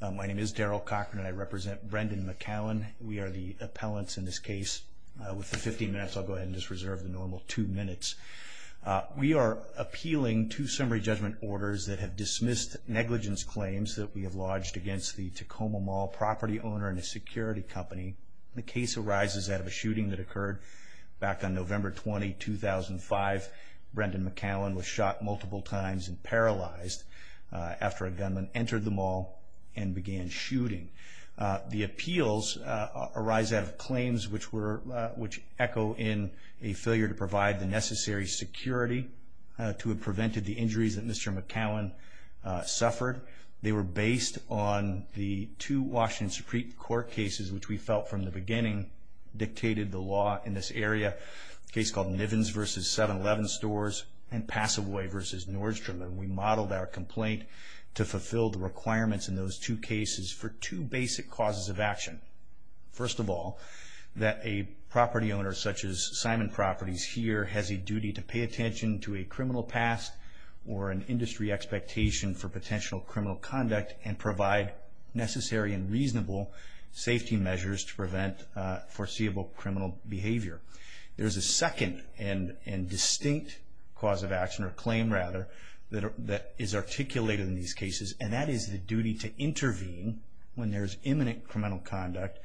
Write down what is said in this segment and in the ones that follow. My name is Daryl Cochran and I represent Brendan McKown. We are the appellants in this case. With the 15 minutes I'll go ahead and just reserve the normal two minutes. We are appealing two summary judgment orders that have dismissed negligence claims that we have lodged against the Tacoma Mall property owner and a security company. The case arises out of a shooting that occurred back on November 20, 2005. Brendan McKown was shot multiple times and paralyzed after a and began shooting. The appeals arise out of claims which were, which echo in a failure to provide the necessary security to have prevented the injuries that Mr. McKown suffered. They were based on the two Washington Supreme Court cases which we felt from the beginning dictated the law in this area. A case called Nivens v. 7-Eleven Stores and Passaway v. Nordstrom. We modeled our two cases for two basic causes of action. First of all, that a property owner such as Simon Properties here has a duty to pay attention to a criminal past or an industry expectation for potential criminal conduct and provide necessary and reasonable safety measures to prevent foreseeable criminal behavior. There's a second and distinct cause of action or claim rather that is articulated in these cases and that is the duty to intervene when there's imminent criminal conduct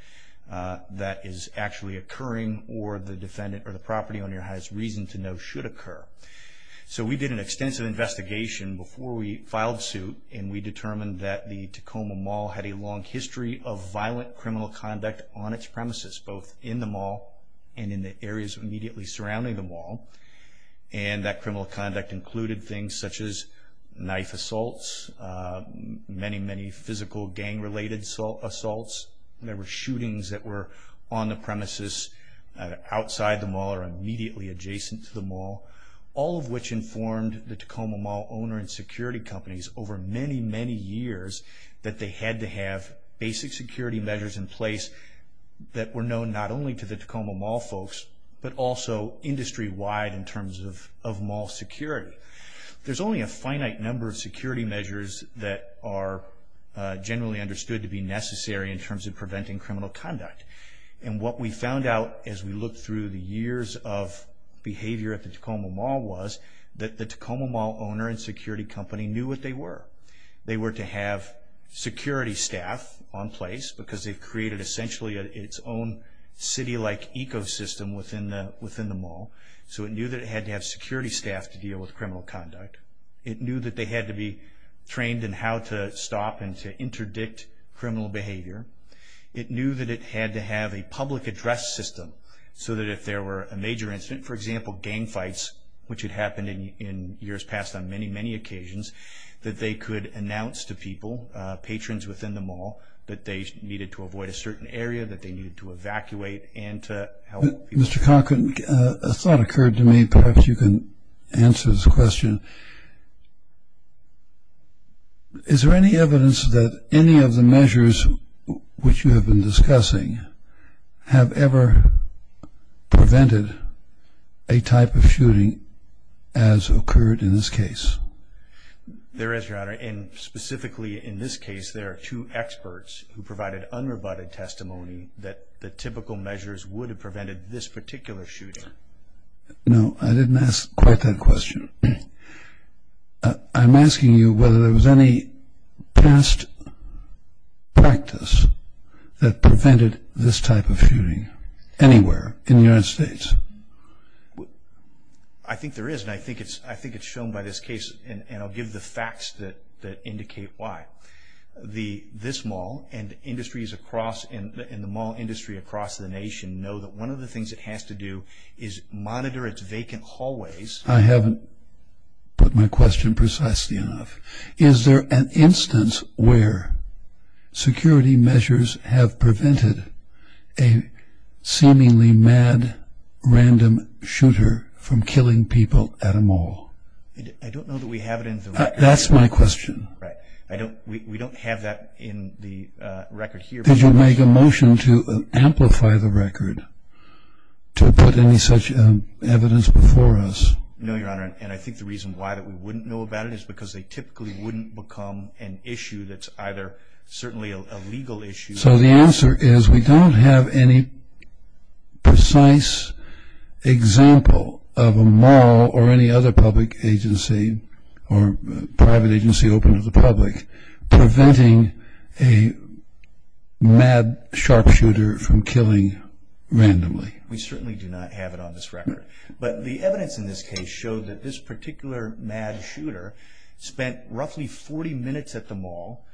that is actually occurring or the defendant or the property owner has reason to know should occur. So we did an extensive investigation before we filed suit and we determined that the Tacoma Mall had a long history of violent criminal conduct on its premises both in the mall and in the areas immediately surrounding the mall. And that criminal conduct included things such as knife assaults, many many physical gang-related assaults. There were shootings that were on the premises outside the mall or immediately adjacent to the mall. All of which informed the Tacoma Mall owner and security companies over many many years that they had to have basic security measures in place that were known not only to the Tacoma Mall folks but also industry-wide in terms of mall security. There's only a finite number of security measures that are generally understood to be necessary in terms of preventing criminal conduct. And what we found out as we look through the years of behavior at the Tacoma Mall was that the Tacoma Mall owner and security company knew what they were. They were to have security staff on place because they've created essentially its own city like ecosystem within the within the mall. So it knew that it had to have security staff to deal with criminal conduct. It knew that they had to be trained in how to stop and to interdict criminal behavior. It knew that it had to have a public address system so that if there were a major incident, for example gang fights, which had happened in years past on many many occasions, that they could announce to people, patrons within the mall, that they needed to avoid a certain area, that they needed to evacuate and to help people. Mr. Conklin, a thought occurred to me, perhaps you can answer this question. Is there any evidence that any of the measures which you have been discussing have ever prevented a type of shooting as occurred in this case? There is, Your Honor, and specifically in this case there are two experts who provided unrebutted testimony that the typical measures would have prevented this particular shooting. No, I didn't ask quite that question. I'm asking you whether there was any past practice that prevented this type of shooting anywhere in the United States. I think there is and I think it's I think it's shown by this case and I'll give the facts that indicate why. This mall and industries across in the mall industry across the nation know that one of the things it has to do is monitor its vacant hallways. I haven't put my question precisely enough. Is there an instance where security measures have prevented a seemingly mad random shooter from killing people at a mall? I don't know that we have it in the record. That's my question. Right, I don't we don't have that in the record here. Did you make a motion to amplify the record to put any such evidence before us? No, Your Honor, and I think the reason why that we wouldn't know about it is because they typically wouldn't become an issue that's either certainly a legal issue. So the answer is we don't have any precise example of a mall or any other public agency or private agency open to the public preventing a mad sharpshooter from killing randomly. We certainly do not have it on this record, but the evidence in this case showed that this particular mad shooter spent roughly 40 minutes at the mall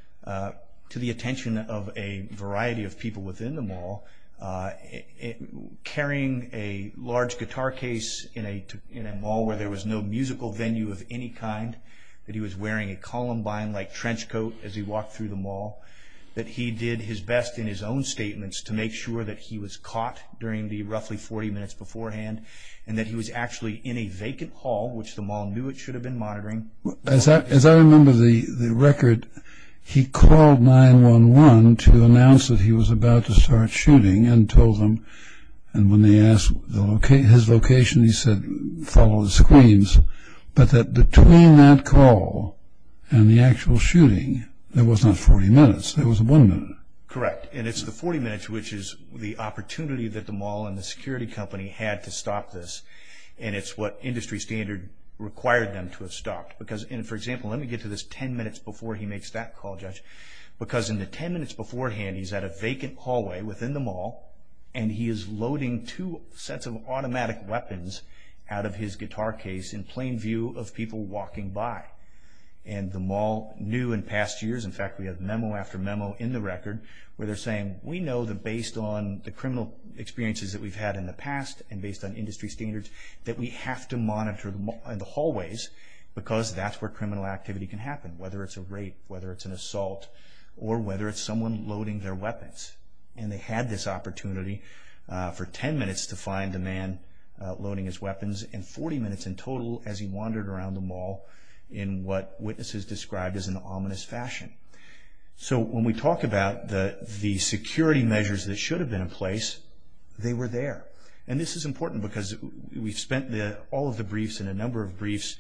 carrying a large guitar case in a mall where there was no musical venue of any kind, that he was wearing a columbine-like trench coat as he walked through the mall, that he did his best in his own statements to make sure that he was caught during the roughly 40 minutes beforehand, and that he was actually in a vacant hall, which the mall knew it should have been monitoring. As I remember the record, he called 9-1-1 to announce that he was about to start shooting and told them, and when they asked his location, he said follow the screams, but that between that call and the actual shooting, there was not 40 minutes, there was one minute. Correct, and it's the 40 minutes which is the opportunity that the mall and the security company had to stop this, and it's what industry standard required them to have stopped. Because, and for example, let me get to this 10 minutes before he makes that call, Judge, because in the 10 minutes beforehand, he's at a vacant hallway within the mall, and he is loading two sets of automatic weapons out of his guitar case in plain view of people walking by. And the mall knew in past years, in fact we have memo after memo in the record, where they're saying, we know that based on the criminal experiences that we've had in the past, and based on industry standards, that we have to prevent criminal activity can happen, whether it's a rape, whether it's an assault, or whether it's someone loading their weapons. And they had this opportunity for 10 minutes to find the man loading his weapons, and 40 minutes in total as he wandered around the mall in what witnesses described as an ominous fashion. So when we talk about the security measures that should have been in place, they were there. And this is important because we've spent all of the briefs and a number of briefs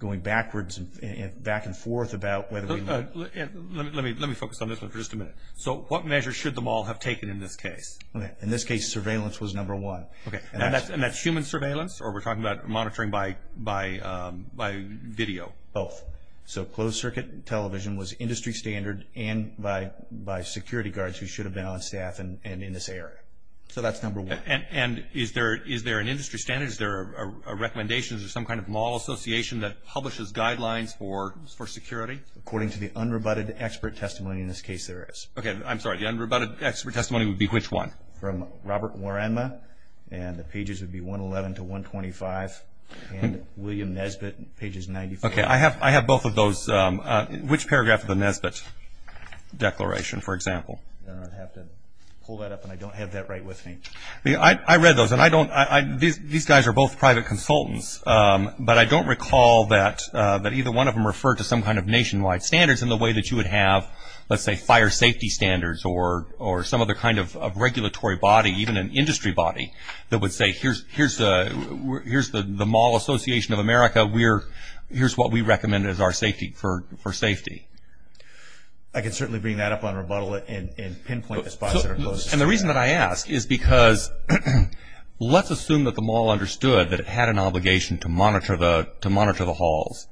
going backwards and back and forth about whether we... Let me focus on this one for just a minute. So what measures should the mall have taken in this case? In this case, surveillance was number one. And that's human surveillance, or we're talking about monitoring by video? Both. So closed circuit television was industry standard, and by security guards who should have been on staff and in this area. So that's number one. And is there an industry standard? Is there a recommendation? Is there some kind of mall association that publishes guidelines for security? According to the unrebutted expert testimony in this case, there is. Okay, I'm sorry. The unrebutted expert testimony would be which one? From Robert Warrenma, and the pages would be 111 to 125, and William Nesbitt, pages 94. Okay, I have both of those. Which paragraph of the Nesbitt declaration, for example? I'm going to have to pull that up, and I don't have that right with me. I read those, and these guys are both private consultants, but I don't recall that either one of them referred to some kind of nationwide standards in the way that you would have, let's say, fire safety standards, or some other kind of regulatory body, even an industry body, that would say, here's the Mall Association of America, here's what we recommend as our safety, for safety. I can certainly bring that up on rebuttal and pinpoint the spots that are closed. And the reason that I ask is because let's assume that the mall understood that it had an obligation to monitor the halls,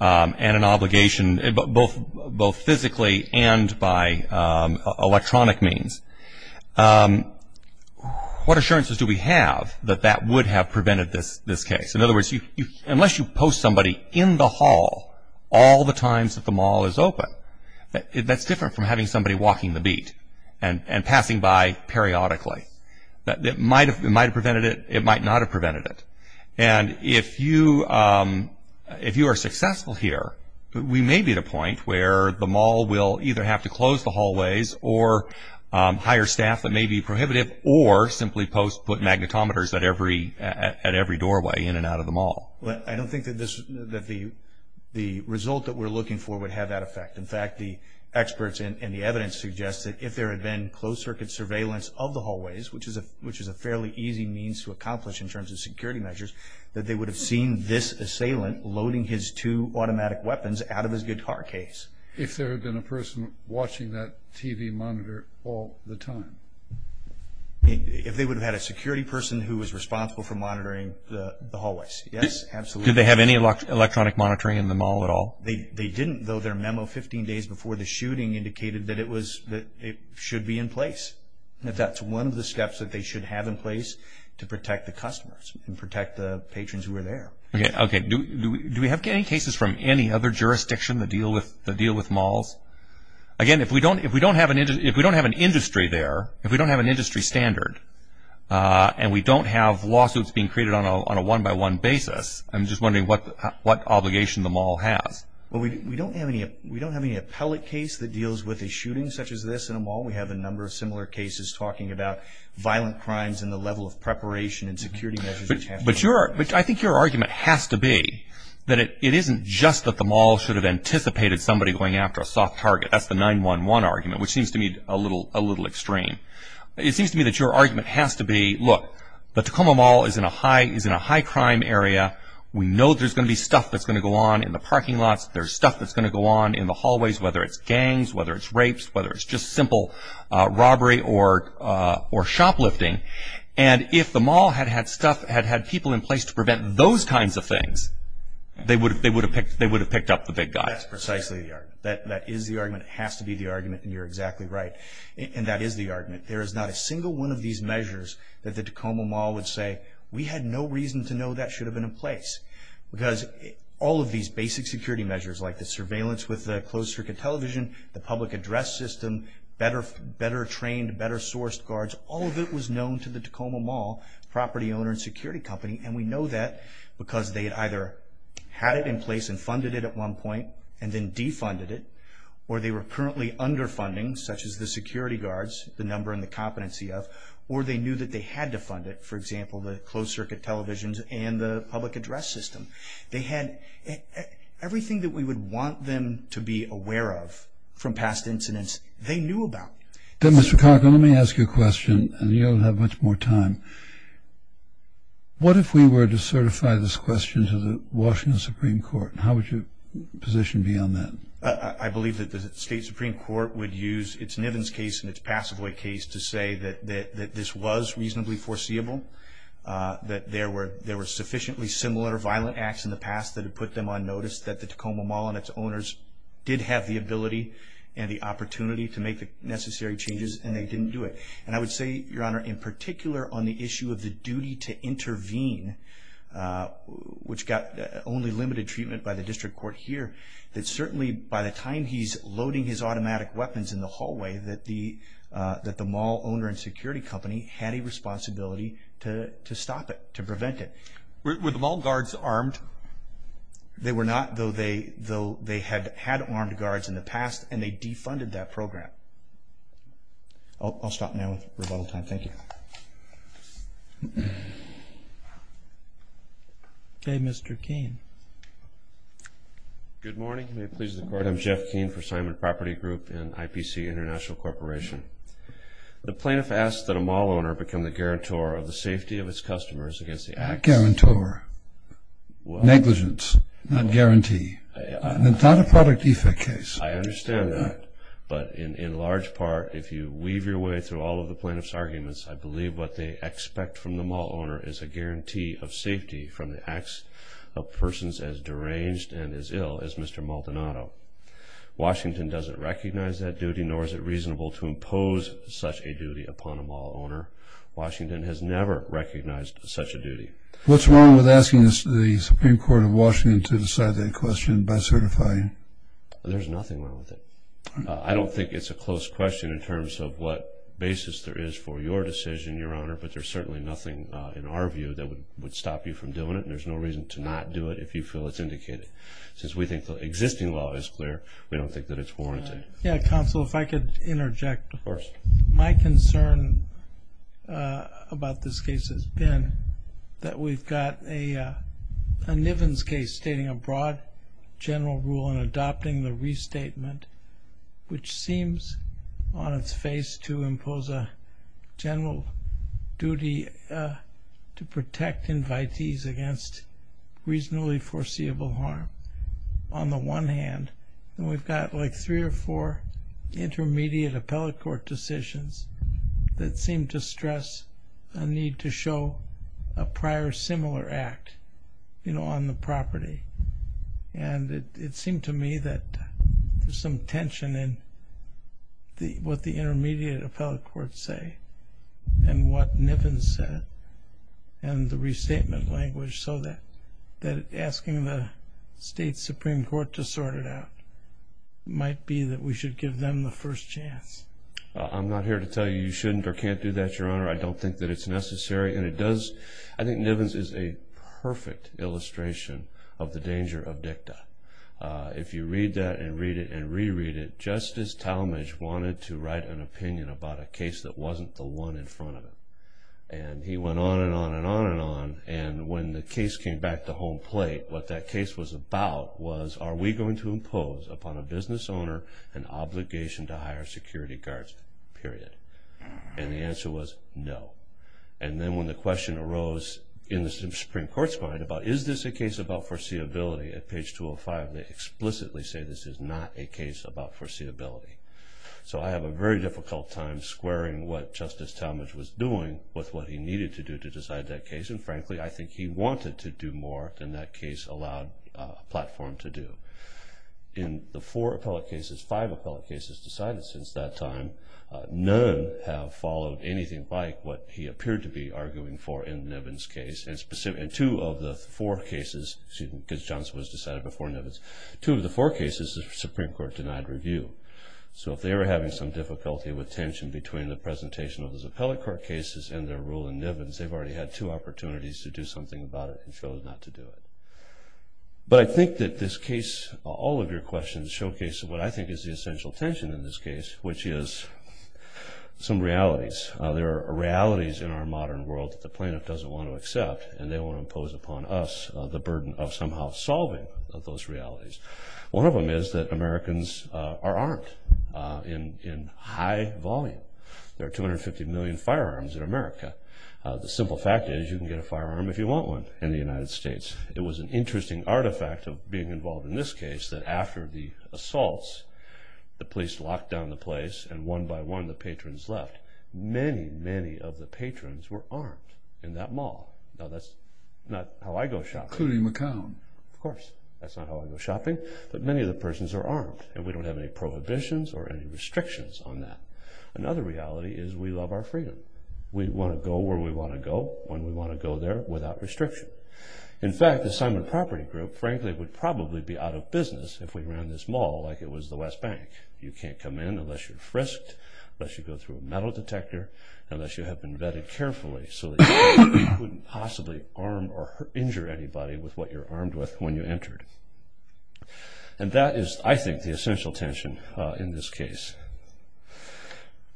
and an obligation both physically and by electronic means. What assurances do we have that that would have prevented this case? In other words, unless you post somebody in the hall all the times that the mall is open, that's different from having somebody walking the beat and passing by periodically. It might have prevented it, it might not have prevented it. And if you are successful here, we may be at a point where the mall will either have to close the hallways, or hire staff that may be prohibitive, or simply post magnetometers I don't think that the result that we're looking for would have that effect. In fact, the experts and the evidence suggests that if there had been closed-circuit surveillance of the hallways, which is a fairly easy means to accomplish in terms of security measures, that they would have seen this assailant loading his two automatic weapons out of his good car case. If there had been a person watching that TV monitor all the time? If they would have had a security person who was responsible for monitoring the hallways, yes, absolutely. Did they have any electronic monitoring in the mall at all? They didn't, though their memo 15 days before the shooting indicated that it should be in place. That's one of the steps that they should have in place to protect the customers and protect the patrons who are there. Okay, do we have any cases from any other jurisdiction that deal with malls? Again, if we don't have an industry there, if we don't have an industry standard, and we don't have lawsuits being created on a one-by-one basis, I'm just wondering what obligation the mall has. Well, we don't have any appellate case that deals with a shooting such as this in a mall. We have a number of similar cases talking about violent crimes and the level of preparation and security measures. But I think your argument has to be that it isn't just that the mall should have anticipated somebody going after a soft target. That's the 911 argument, which seems to me a little extreme. It seems to me that your argument has to be, look, the Tacoma Mall is in a high-crime area. We know there's going to be stuff that's going to go on in the parking lots. There's stuff that's going to go on in the hallways, whether it's gangs, whether it's rapes, whether it's just simple robbery or shoplifting. And if the mall had had stuff, had had people in place to prevent those kinds of things, they would have picked up the big guy. That's precisely the argument. That is the argument. It has to be the argument, and you're exactly right. And that is the argument. There is not a single one of these measures that the Tacoma Mall would say, we had no reason to know that should have been in place. Because all of these basic security measures, like the surveillance with the closed-circuit television, the public address system, better-trained, better-sourced guards, all of it was known to the Tacoma Mall property owner and security company. And we know that because they had either had it in place and funded it at one point and then defunded it, or they were currently underfunding, such as the security guards, the number and the competency of, or they knew that they had to fund it. For example, the closed-circuit televisions and the public address system. They had everything that we would want them to be aware of from past incidents they knew about. Then, Mr. Cocker, let me ask you a question, and you'll have much more time. What if we were to certify this question to the Washington Supreme Court? How would your position be on that? I believe that the state Supreme Court would use its Nivens case and its Passivoy case to say that this was reasonably foreseeable, that there were sufficiently similar violent acts in the past that had put them on notice, that the Tacoma Mall and its owners did have the ability and the opportunity to make the necessary changes, and they didn't do it. And I would say, Your Honor, in particular on the issue of the duty to intervene, which got only limited treatment by the district court here, that certainly by the time he's loading his automatic weapons in the hallway, that the mall owner and security company had a responsibility to stop it, to prevent it. Were the mall guards armed? They were not, though they had armed guards in the past, and they defunded that program. I'll stop now with rebuttal time. Thank you. Okay, Mr. Keene. Good morning. May it please the Court, I'm Jeff Keene for Simon Property Group and IPC International Corporation. The plaintiff asks that a mall owner become the guarantor of the safety of its customers against the acts... Guarantor. Negligence, not guarantee. It's not a product defect case. I understand that. But in large part, if you weave your way through all of the plaintiff's arguments, I believe what they expect from the mall owner is a guarantee of safety from the acts of persons as deranged and as ill as Mr. Maldonado. Washington doesn't recognize that duty, nor is it reasonable to impose such a duty upon a mall owner. Washington has never recognized such a duty. What's wrong with asking the Supreme Court of Washington to decide that question by certifying? There's nothing wrong with it. I don't think it's a close question in terms of what basis there is for your decision, Your Honor, but there's certainly nothing in our view that would stop you from doing it, and there's no reason to not do it if you feel it's indicated. Since we think the existing law is clear, we don't think that it's warranted. Counsel, if I could interject. Of course. My concern about this case has been that we've got a Nivens case stating a broad general rule and adopting the restatement, which seems on its face to impose a general duty to protect invitees against reasonably foreseeable harm on the one hand, and we've got like three or four intermediate appellate court decisions that seem to stress a need to show a prior similar act, you know, on the property. And it seemed to me that there's some tension in what the intermediate appellate courts say and what Nivens said and the restatement language, so that asking the state Supreme Court to sort it out might be that we should give them the first chance. I'm not here to tell you you shouldn't or can't do that, Your Honor. I don't think that it's necessary, and it does. I think Nivens is a perfect illustration of the danger of dicta. If you read that and read it and reread it, Justice Talmadge wanted to write an opinion about a case that wasn't the one in front of him, and he went on and on and on and on, and when the case came back to home plate, what that case was about was are we going to impose upon a business owner an obligation to hire security guards, period? And the answer was no. And then when the question arose in the Supreme Court's mind about is this a case about foreseeability, at page 205 they explicitly say this is not a case about foreseeability. So I have a very difficult time squaring what Justice Talmadge was doing with what he needed to do to decide that case, and frankly I think he wanted to do more than that case allowed a platform to do. In the four appellate cases, five appellate cases decided since that time, none have followed anything like what he appeared to be arguing for in Nivens' case. In two of the four cases, excuse me, because Johnson was decided before Nivens, two of the four cases the Supreme Court denied review. So if they were having some difficulty with tension between the presentation of those appellate court cases and their rule in Nivens, they've already had two opportunities to do something about it and chose not to do it. But I think that this case, all of your questions, showcase what I think is the essential tension in this case, which is some realities. There are realities in our modern world that the plaintiff doesn't want to accept and they want to impose upon us the burden of somehow solving those realities. One of them is that Americans are armed in high volume. There are 250 million firearms in America. The simple fact is you can get a firearm if you want one in the United States. It was an interesting artifact of being involved in this case that after the assaults, the police locked down the place, and one by one the patrons left. Many, many of the patrons were armed in that mall. Now that's not how I go shopping. Including McCown. Of course. That's not how I go shopping. But many of the persons are armed, and we don't have any prohibitions or any restrictions on that. Another reality is we love our freedom. We want to go where we want to go when we want to go there without restriction. In fact, the Simon Property Group, frankly, would probably be out of business if we ran this mall like it was the West Bank. You can't come in unless you're frisked, unless you go through a metal detector, unless you have been vetted carefully so that you couldn't possibly arm or injure anybody with what you're armed with when you entered. And that is, I think, the essential tension in this case.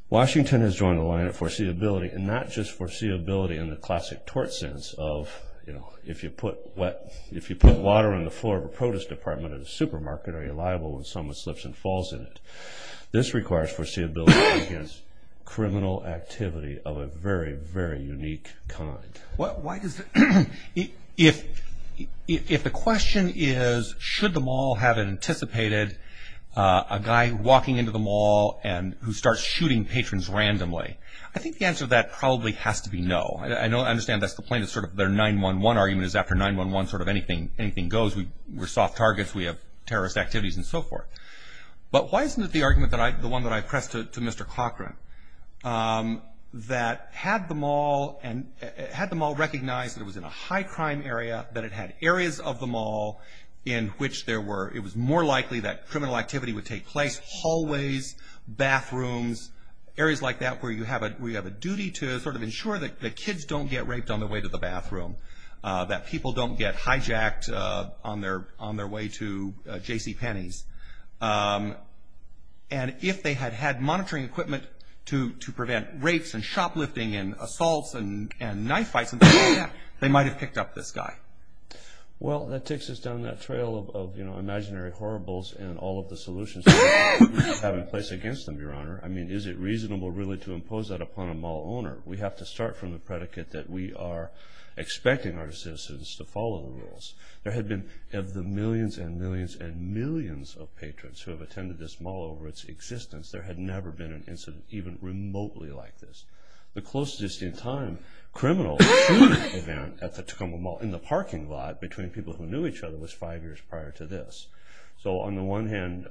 Washington has joined the line of foreseeability, and not just foreseeability in the classic tort sense of, you know, if you put water on the floor of a POTUS department at a supermarket, are you liable when someone slips and falls in it? This requires foreseeability against criminal activity of a very, very unique kind. If the question is, should the mall have anticipated a guy walking into the mall and who starts shooting patrons randomly, I think the answer to that probably has to be no. I understand that's the plaintiff's 9-1-1 argument is after 9-1-1 anything goes. We're soft targets. We have terrorist activities and so forth. But why isn't it the argument, the one that I pressed to Mr. Cochran, that had the mall recognize that it was in a high-crime area, that it had areas of the mall in which it was more likely that criminal activity would take place, hallways, bathrooms, areas like that where you have a duty to sort of ensure that kids don't get raped on their way to the bathroom, that people don't get hijacked on their way to JCPenney's, and if they had had monitoring equipment to prevent rapes and shoplifting and assaults and knife fights and things like that, they might have picked up this guy. Well, that takes us down that trail of, you know, imaginary horribles and all of the solutions that we have in place against them, Your Honor. I mean, is it reasonable really to impose that upon a mall owner? We have to start from the predicate that we are expecting our citizens to follow the rules. There have been millions and millions and millions of patrons who have attended this mall over its existence. There had never been an incident even remotely like this. The closest in time criminal shooting event at the Tacoma Mall in the parking lot between people who knew each other was five years prior to this. So on the one hand,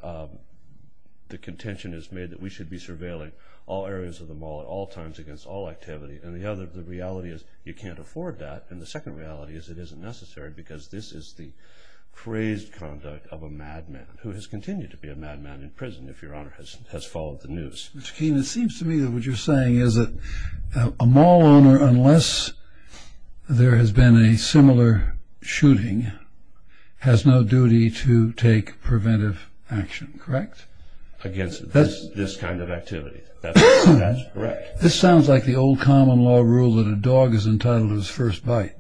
the contention is made that we should be surveilling all areas of the mall at all times against all activity, and the reality is you can't afford that. And the second reality is it isn't necessary because this is the crazed conduct of a madman who has continued to be a madman in prison, if Your Honor has followed the news. Mr. Keene, it seems to me that what you're saying is that a mall owner, unless there has been a similar shooting, has no duty to take preventive action, correct? Against this kind of activity. That's correct. This sounds like the old common law rule that a dog is entitled to his first bite.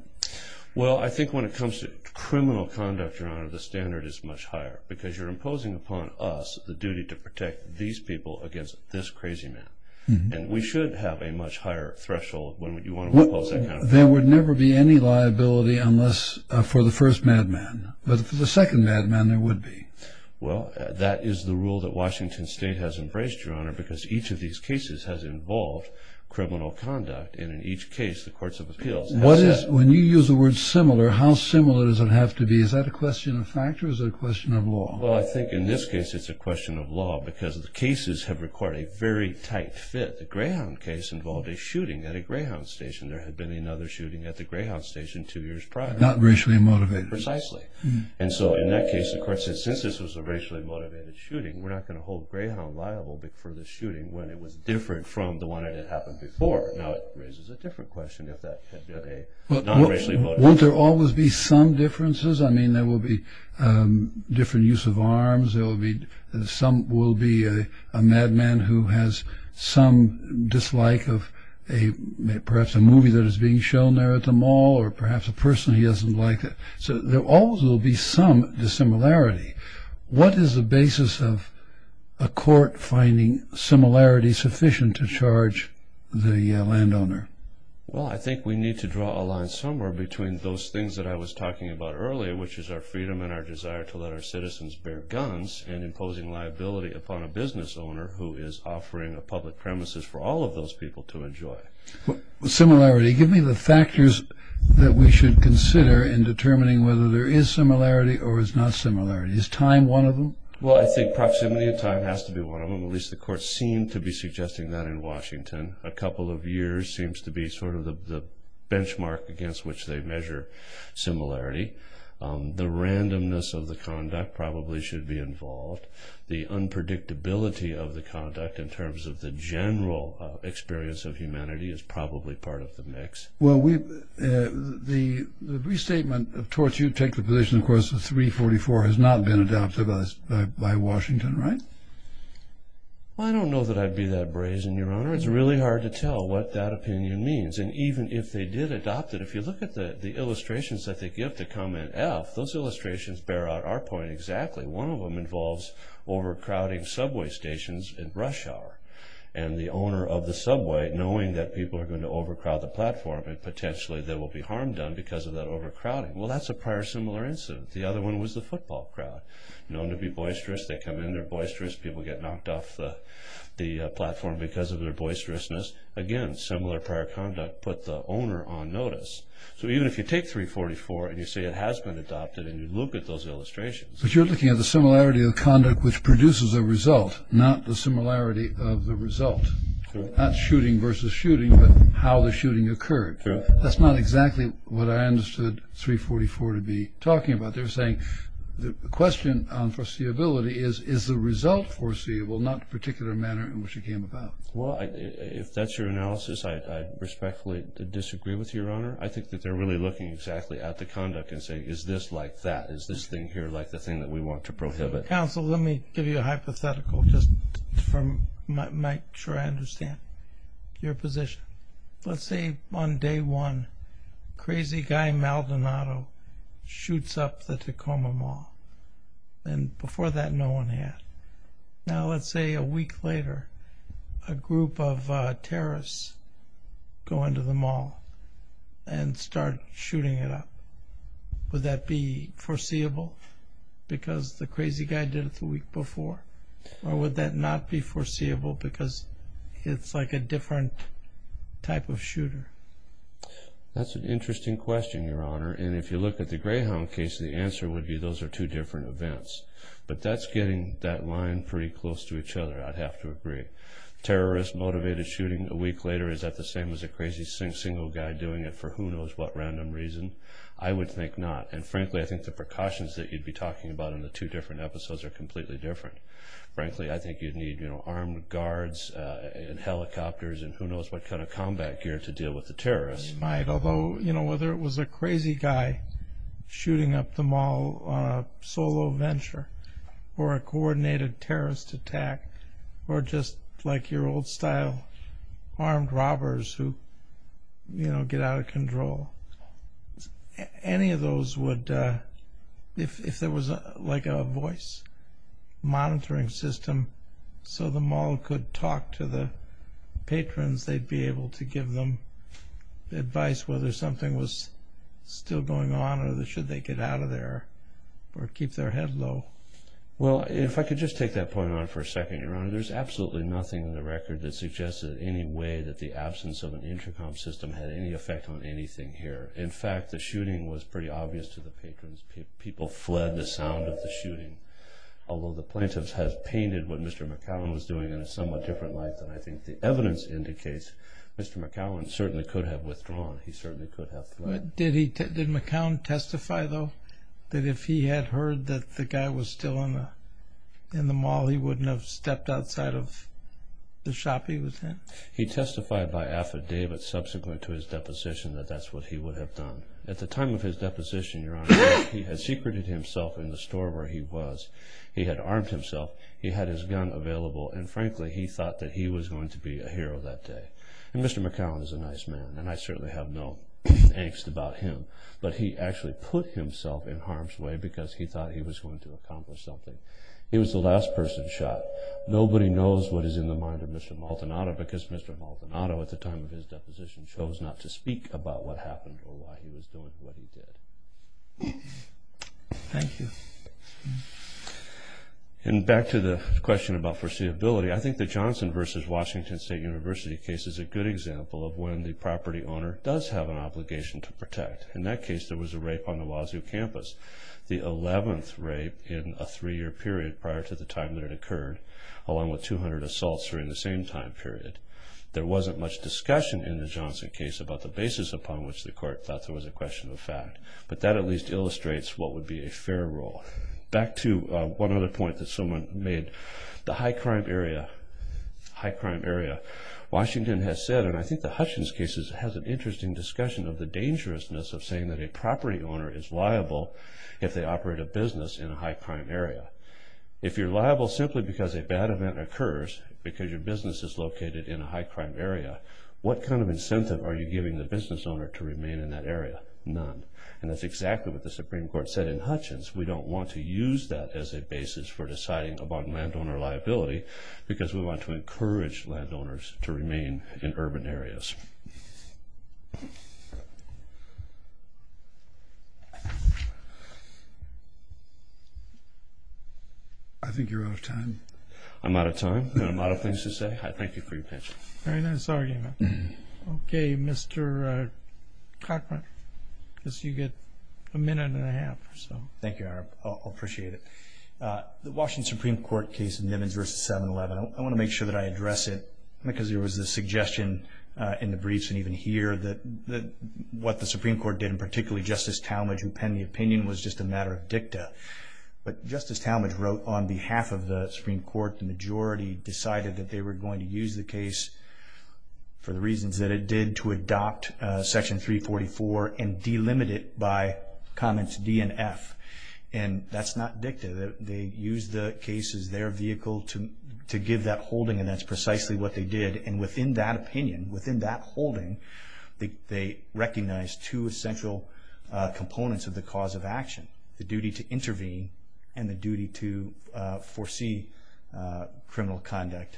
Well, I think when it comes to criminal conduct, Your Honor, the standard is much higher because you're imposing upon us the duty to protect these people against this crazy man. And we should have a much higher threshold when you want to impose that kind of rule. There would never be any liability for the first madman, but for the second madman there would be. Well, that is the rule that Washington State has embraced, Your Honor, because each of these cases has involved criminal conduct, and in each case the courts of appeals have said. When you use the word similar, how similar does it have to be? Is that a question of factors or a question of law? Well, I think in this case it's a question of law because the cases have required a very tight fit. The Greyhound case involved a shooting at a Greyhound station. There had been another shooting at the Greyhound station two years prior. Not racially motivated. Precisely. And so in that case the courts have said since this was a racially motivated shooting, we're not going to hold Greyhound liable for the shooting when it was different from the one that had happened before. Now it raises a different question if that had been a non-racially motivated shooting. Won't there always be some differences? I mean there will be different use of arms. There will be a madman who has some dislike of perhaps a movie that is being shown there at the mall or perhaps a person he doesn't like. So there always will be some dissimilarity. What is the basis of a court finding similarity sufficient to charge the landowner? Well, I think we need to draw a line somewhere between those things that I was talking about earlier, which is our freedom and our desire to let our citizens bear guns and imposing liability upon a business owner who is offering a public premises for all of those people to enjoy. Similarity. Give me the factors that we should consider in determining whether there is similarity or is not similarity. Is time one of them? Well, I think proximity of time has to be one of them. At least the courts seem to be suggesting that in Washington. A couple of years seems to be sort of the benchmark against which they measure similarity. The randomness of the conduct probably should be involved. The unpredictability of the conduct in terms of the general experience of humanity is probably part of the mix. Well, the restatement of torture, you take the position, of course, that 344 has not been adopted by Washington, right? Well, I don't know that I'd be that brazen, Your Honor. It's really hard to tell what that opinion means. And even if they did adopt it, if you look at the illustrations that they give to comment F, those illustrations bear out our point exactly. One of them involves overcrowding subway stations in Rush Hour. And the owner of the subway, knowing that people are going to overcrowd the platform and potentially there will be harm done because of that overcrowding. Well, that's a prior similar incident. The other one was the football crowd, known to be boisterous. They come in, they're boisterous. People get knocked off the platform because of their boisterousness. Again, similar prior conduct put the owner on notice. So even if you take 344 and you say it has been adopted and you look at those illustrations. But you're looking at the similarity of conduct which produces a result, not the similarity of the result. Not shooting versus shooting, but how the shooting occurred. That's not exactly what I understood 344 to be talking about. They're saying the question on foreseeability is, is the result foreseeable, not the particular manner in which it came about. Well, if that's your analysis, I respectfully disagree with you, Your Honor. I think that they're really looking exactly at the conduct and saying, is this like that? Is this thing here like the thing that we want to prohibit? Counsel, let me give you a hypothetical just from my sure I understand your position. Let's say on day one, crazy guy Maldonado shoots up the Tacoma Mall. And before that, no one had. Now let's say a week later, a group of terrorists go into the mall and start shooting it up. Would that be foreseeable because the crazy guy did it the week before? Or would that not be foreseeable because it's like a different type of shooter? That's an interesting question, Your Honor. And if you look at the Greyhound case, the answer would be those are two different events. But that's getting that line pretty close to each other, I'd have to agree. Terrorist-motivated shooting a week later, is that the same as a crazy single guy doing it for who knows what random reason? I would think not. And frankly, I think the precautions that you'd be talking about in the two different episodes are completely different. Frankly, I think you'd need armed guards and helicopters and who knows what kind of combat gear to deal with the terrorists. You might, although whether it was a crazy guy shooting up the mall on a solo venture or a coordinated terrorist attack or just like your old style, armed robbers who get out of control. Any of those would, if there was like a voice monitoring system so the mall could talk to the patrons, they'd be able to give them advice whether something was still going on or should they get out of there or keep their head low. Well, if I could just take that point on for a second, Your Honor. Your Honor, there's absolutely nothing in the record that suggests in any way that the absence of an intercom system had any effect on anything here. In fact, the shooting was pretty obvious to the patrons. People fled the sound of the shooting. Although the plaintiff has painted what Mr. McCowan was doing in a somewhat different light than I think the evidence indicates, Mr. McCowan certainly could have withdrawn. He certainly could have fled. Did McCowan testify, though, that if he had heard that the guy was still in the mall, he wouldn't have stepped outside of the shop he was in? He testified by affidavit subsequent to his deposition that that's what he would have done. At the time of his deposition, Your Honor, he had secreted himself in the store where he was. He had armed himself. He had his gun available, and frankly, he thought that he was going to be a hero that day. And Mr. McCowan is a nice man, and I certainly have no angst about him, but he actually put himself in harm's way because he thought he was going to accomplish something. He was the last person shot. Nobody knows what is in the mind of Mr. Maldonado because Mr. Maldonado, at the time of his deposition, chose not to speak about what happened or why he was doing what he did. Thank you. And back to the question about foreseeability, I think the Johnson v. Washington State University case is a good example of when the property owner does have an obligation to protect. In that case, there was a rape on the Wazoo campus, the 11th rape in a three-year period prior to the time that it occurred, along with 200 assaults during the same time period. There wasn't much discussion in the Johnson case about the basis upon which the court thought there was a question of fact, but that at least illustrates what would be a fair rule. Back to one other point that someone made. The high-crime area, Washington has said, and I think the Hutchins case has an interesting discussion of the dangerousness of saying that a property owner is liable if they operate a business in a high-crime area. If you're liable simply because a bad event occurs, because your business is located in a high-crime area, what kind of incentive are you giving the business owner to remain in that area? None. And that's exactly what the Supreme Court said in Hutchins. We don't want to use that as a basis for deciding upon landowner liability because we want to encourage landowners to remain in urban areas. I think you're out of time. I'm out of time and I'm out of things to say. I thank you for your attention. Very nice arguing. Okay, Mr. Cochran, I guess you get a minute and a half or so. Thank you, I appreciate it. The Washington Supreme Court case in Nimmins v. 7-11, I want to make sure that I address it because there was a suggestion in the briefs and even here that what the Supreme Court did, and particularly Justice Talmadge who penned the opinion, was just a matter of dicta. But Justice Talmadge wrote on behalf of the Supreme Court, the majority decided that they were going to use the case for the reasons that it did, to adopt Section 344 and delimit it by comments D and F. And that's not dicta. They used the case as their vehicle to give that holding, and that's precisely what they did. And within that opinion, within that holding, they recognized two essential components of the cause of action, the duty to intervene and the duty to foresee criminal conduct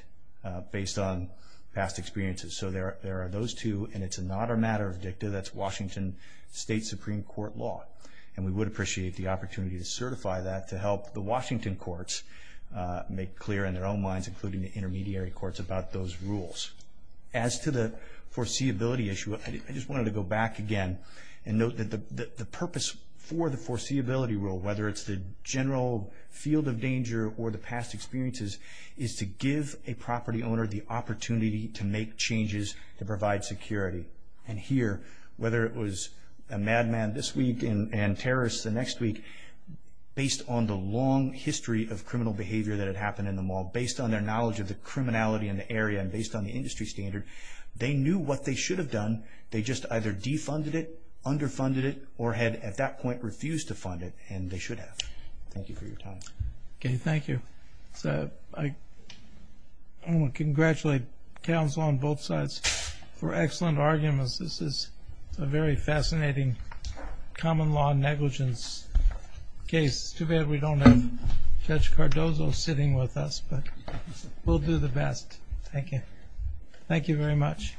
based on past experiences. So there are those two, and it's not a matter of dicta. That's Washington State Supreme Court law. And we would appreciate the opportunity to certify that to help the Washington courts make clear, in their own minds, including the intermediary courts, about those rules. As to the foreseeability issue, I just wanted to go back again and note that the purpose for the foreseeability rule, whether it's the general field of danger or the past experiences, is to give a property owner the opportunity to make changes to provide security. And here, whether it was a madman this week and terrorists the next week, based on the long history of criminal behavior that had happened in the mall, based on their knowledge of the criminality in the area and based on the industry standard, they knew what they should have done. They just either defunded it, underfunded it, or had, at that point, refused to fund it. And they should have. Thank you for your time. Okay, thank you. I want to congratulate counsel on both sides for excellent arguments. This is a very fascinating common law negligence case. Too bad we don't have Judge Cardozo sitting with us, but we'll do the best. Thank you. Thank you very much.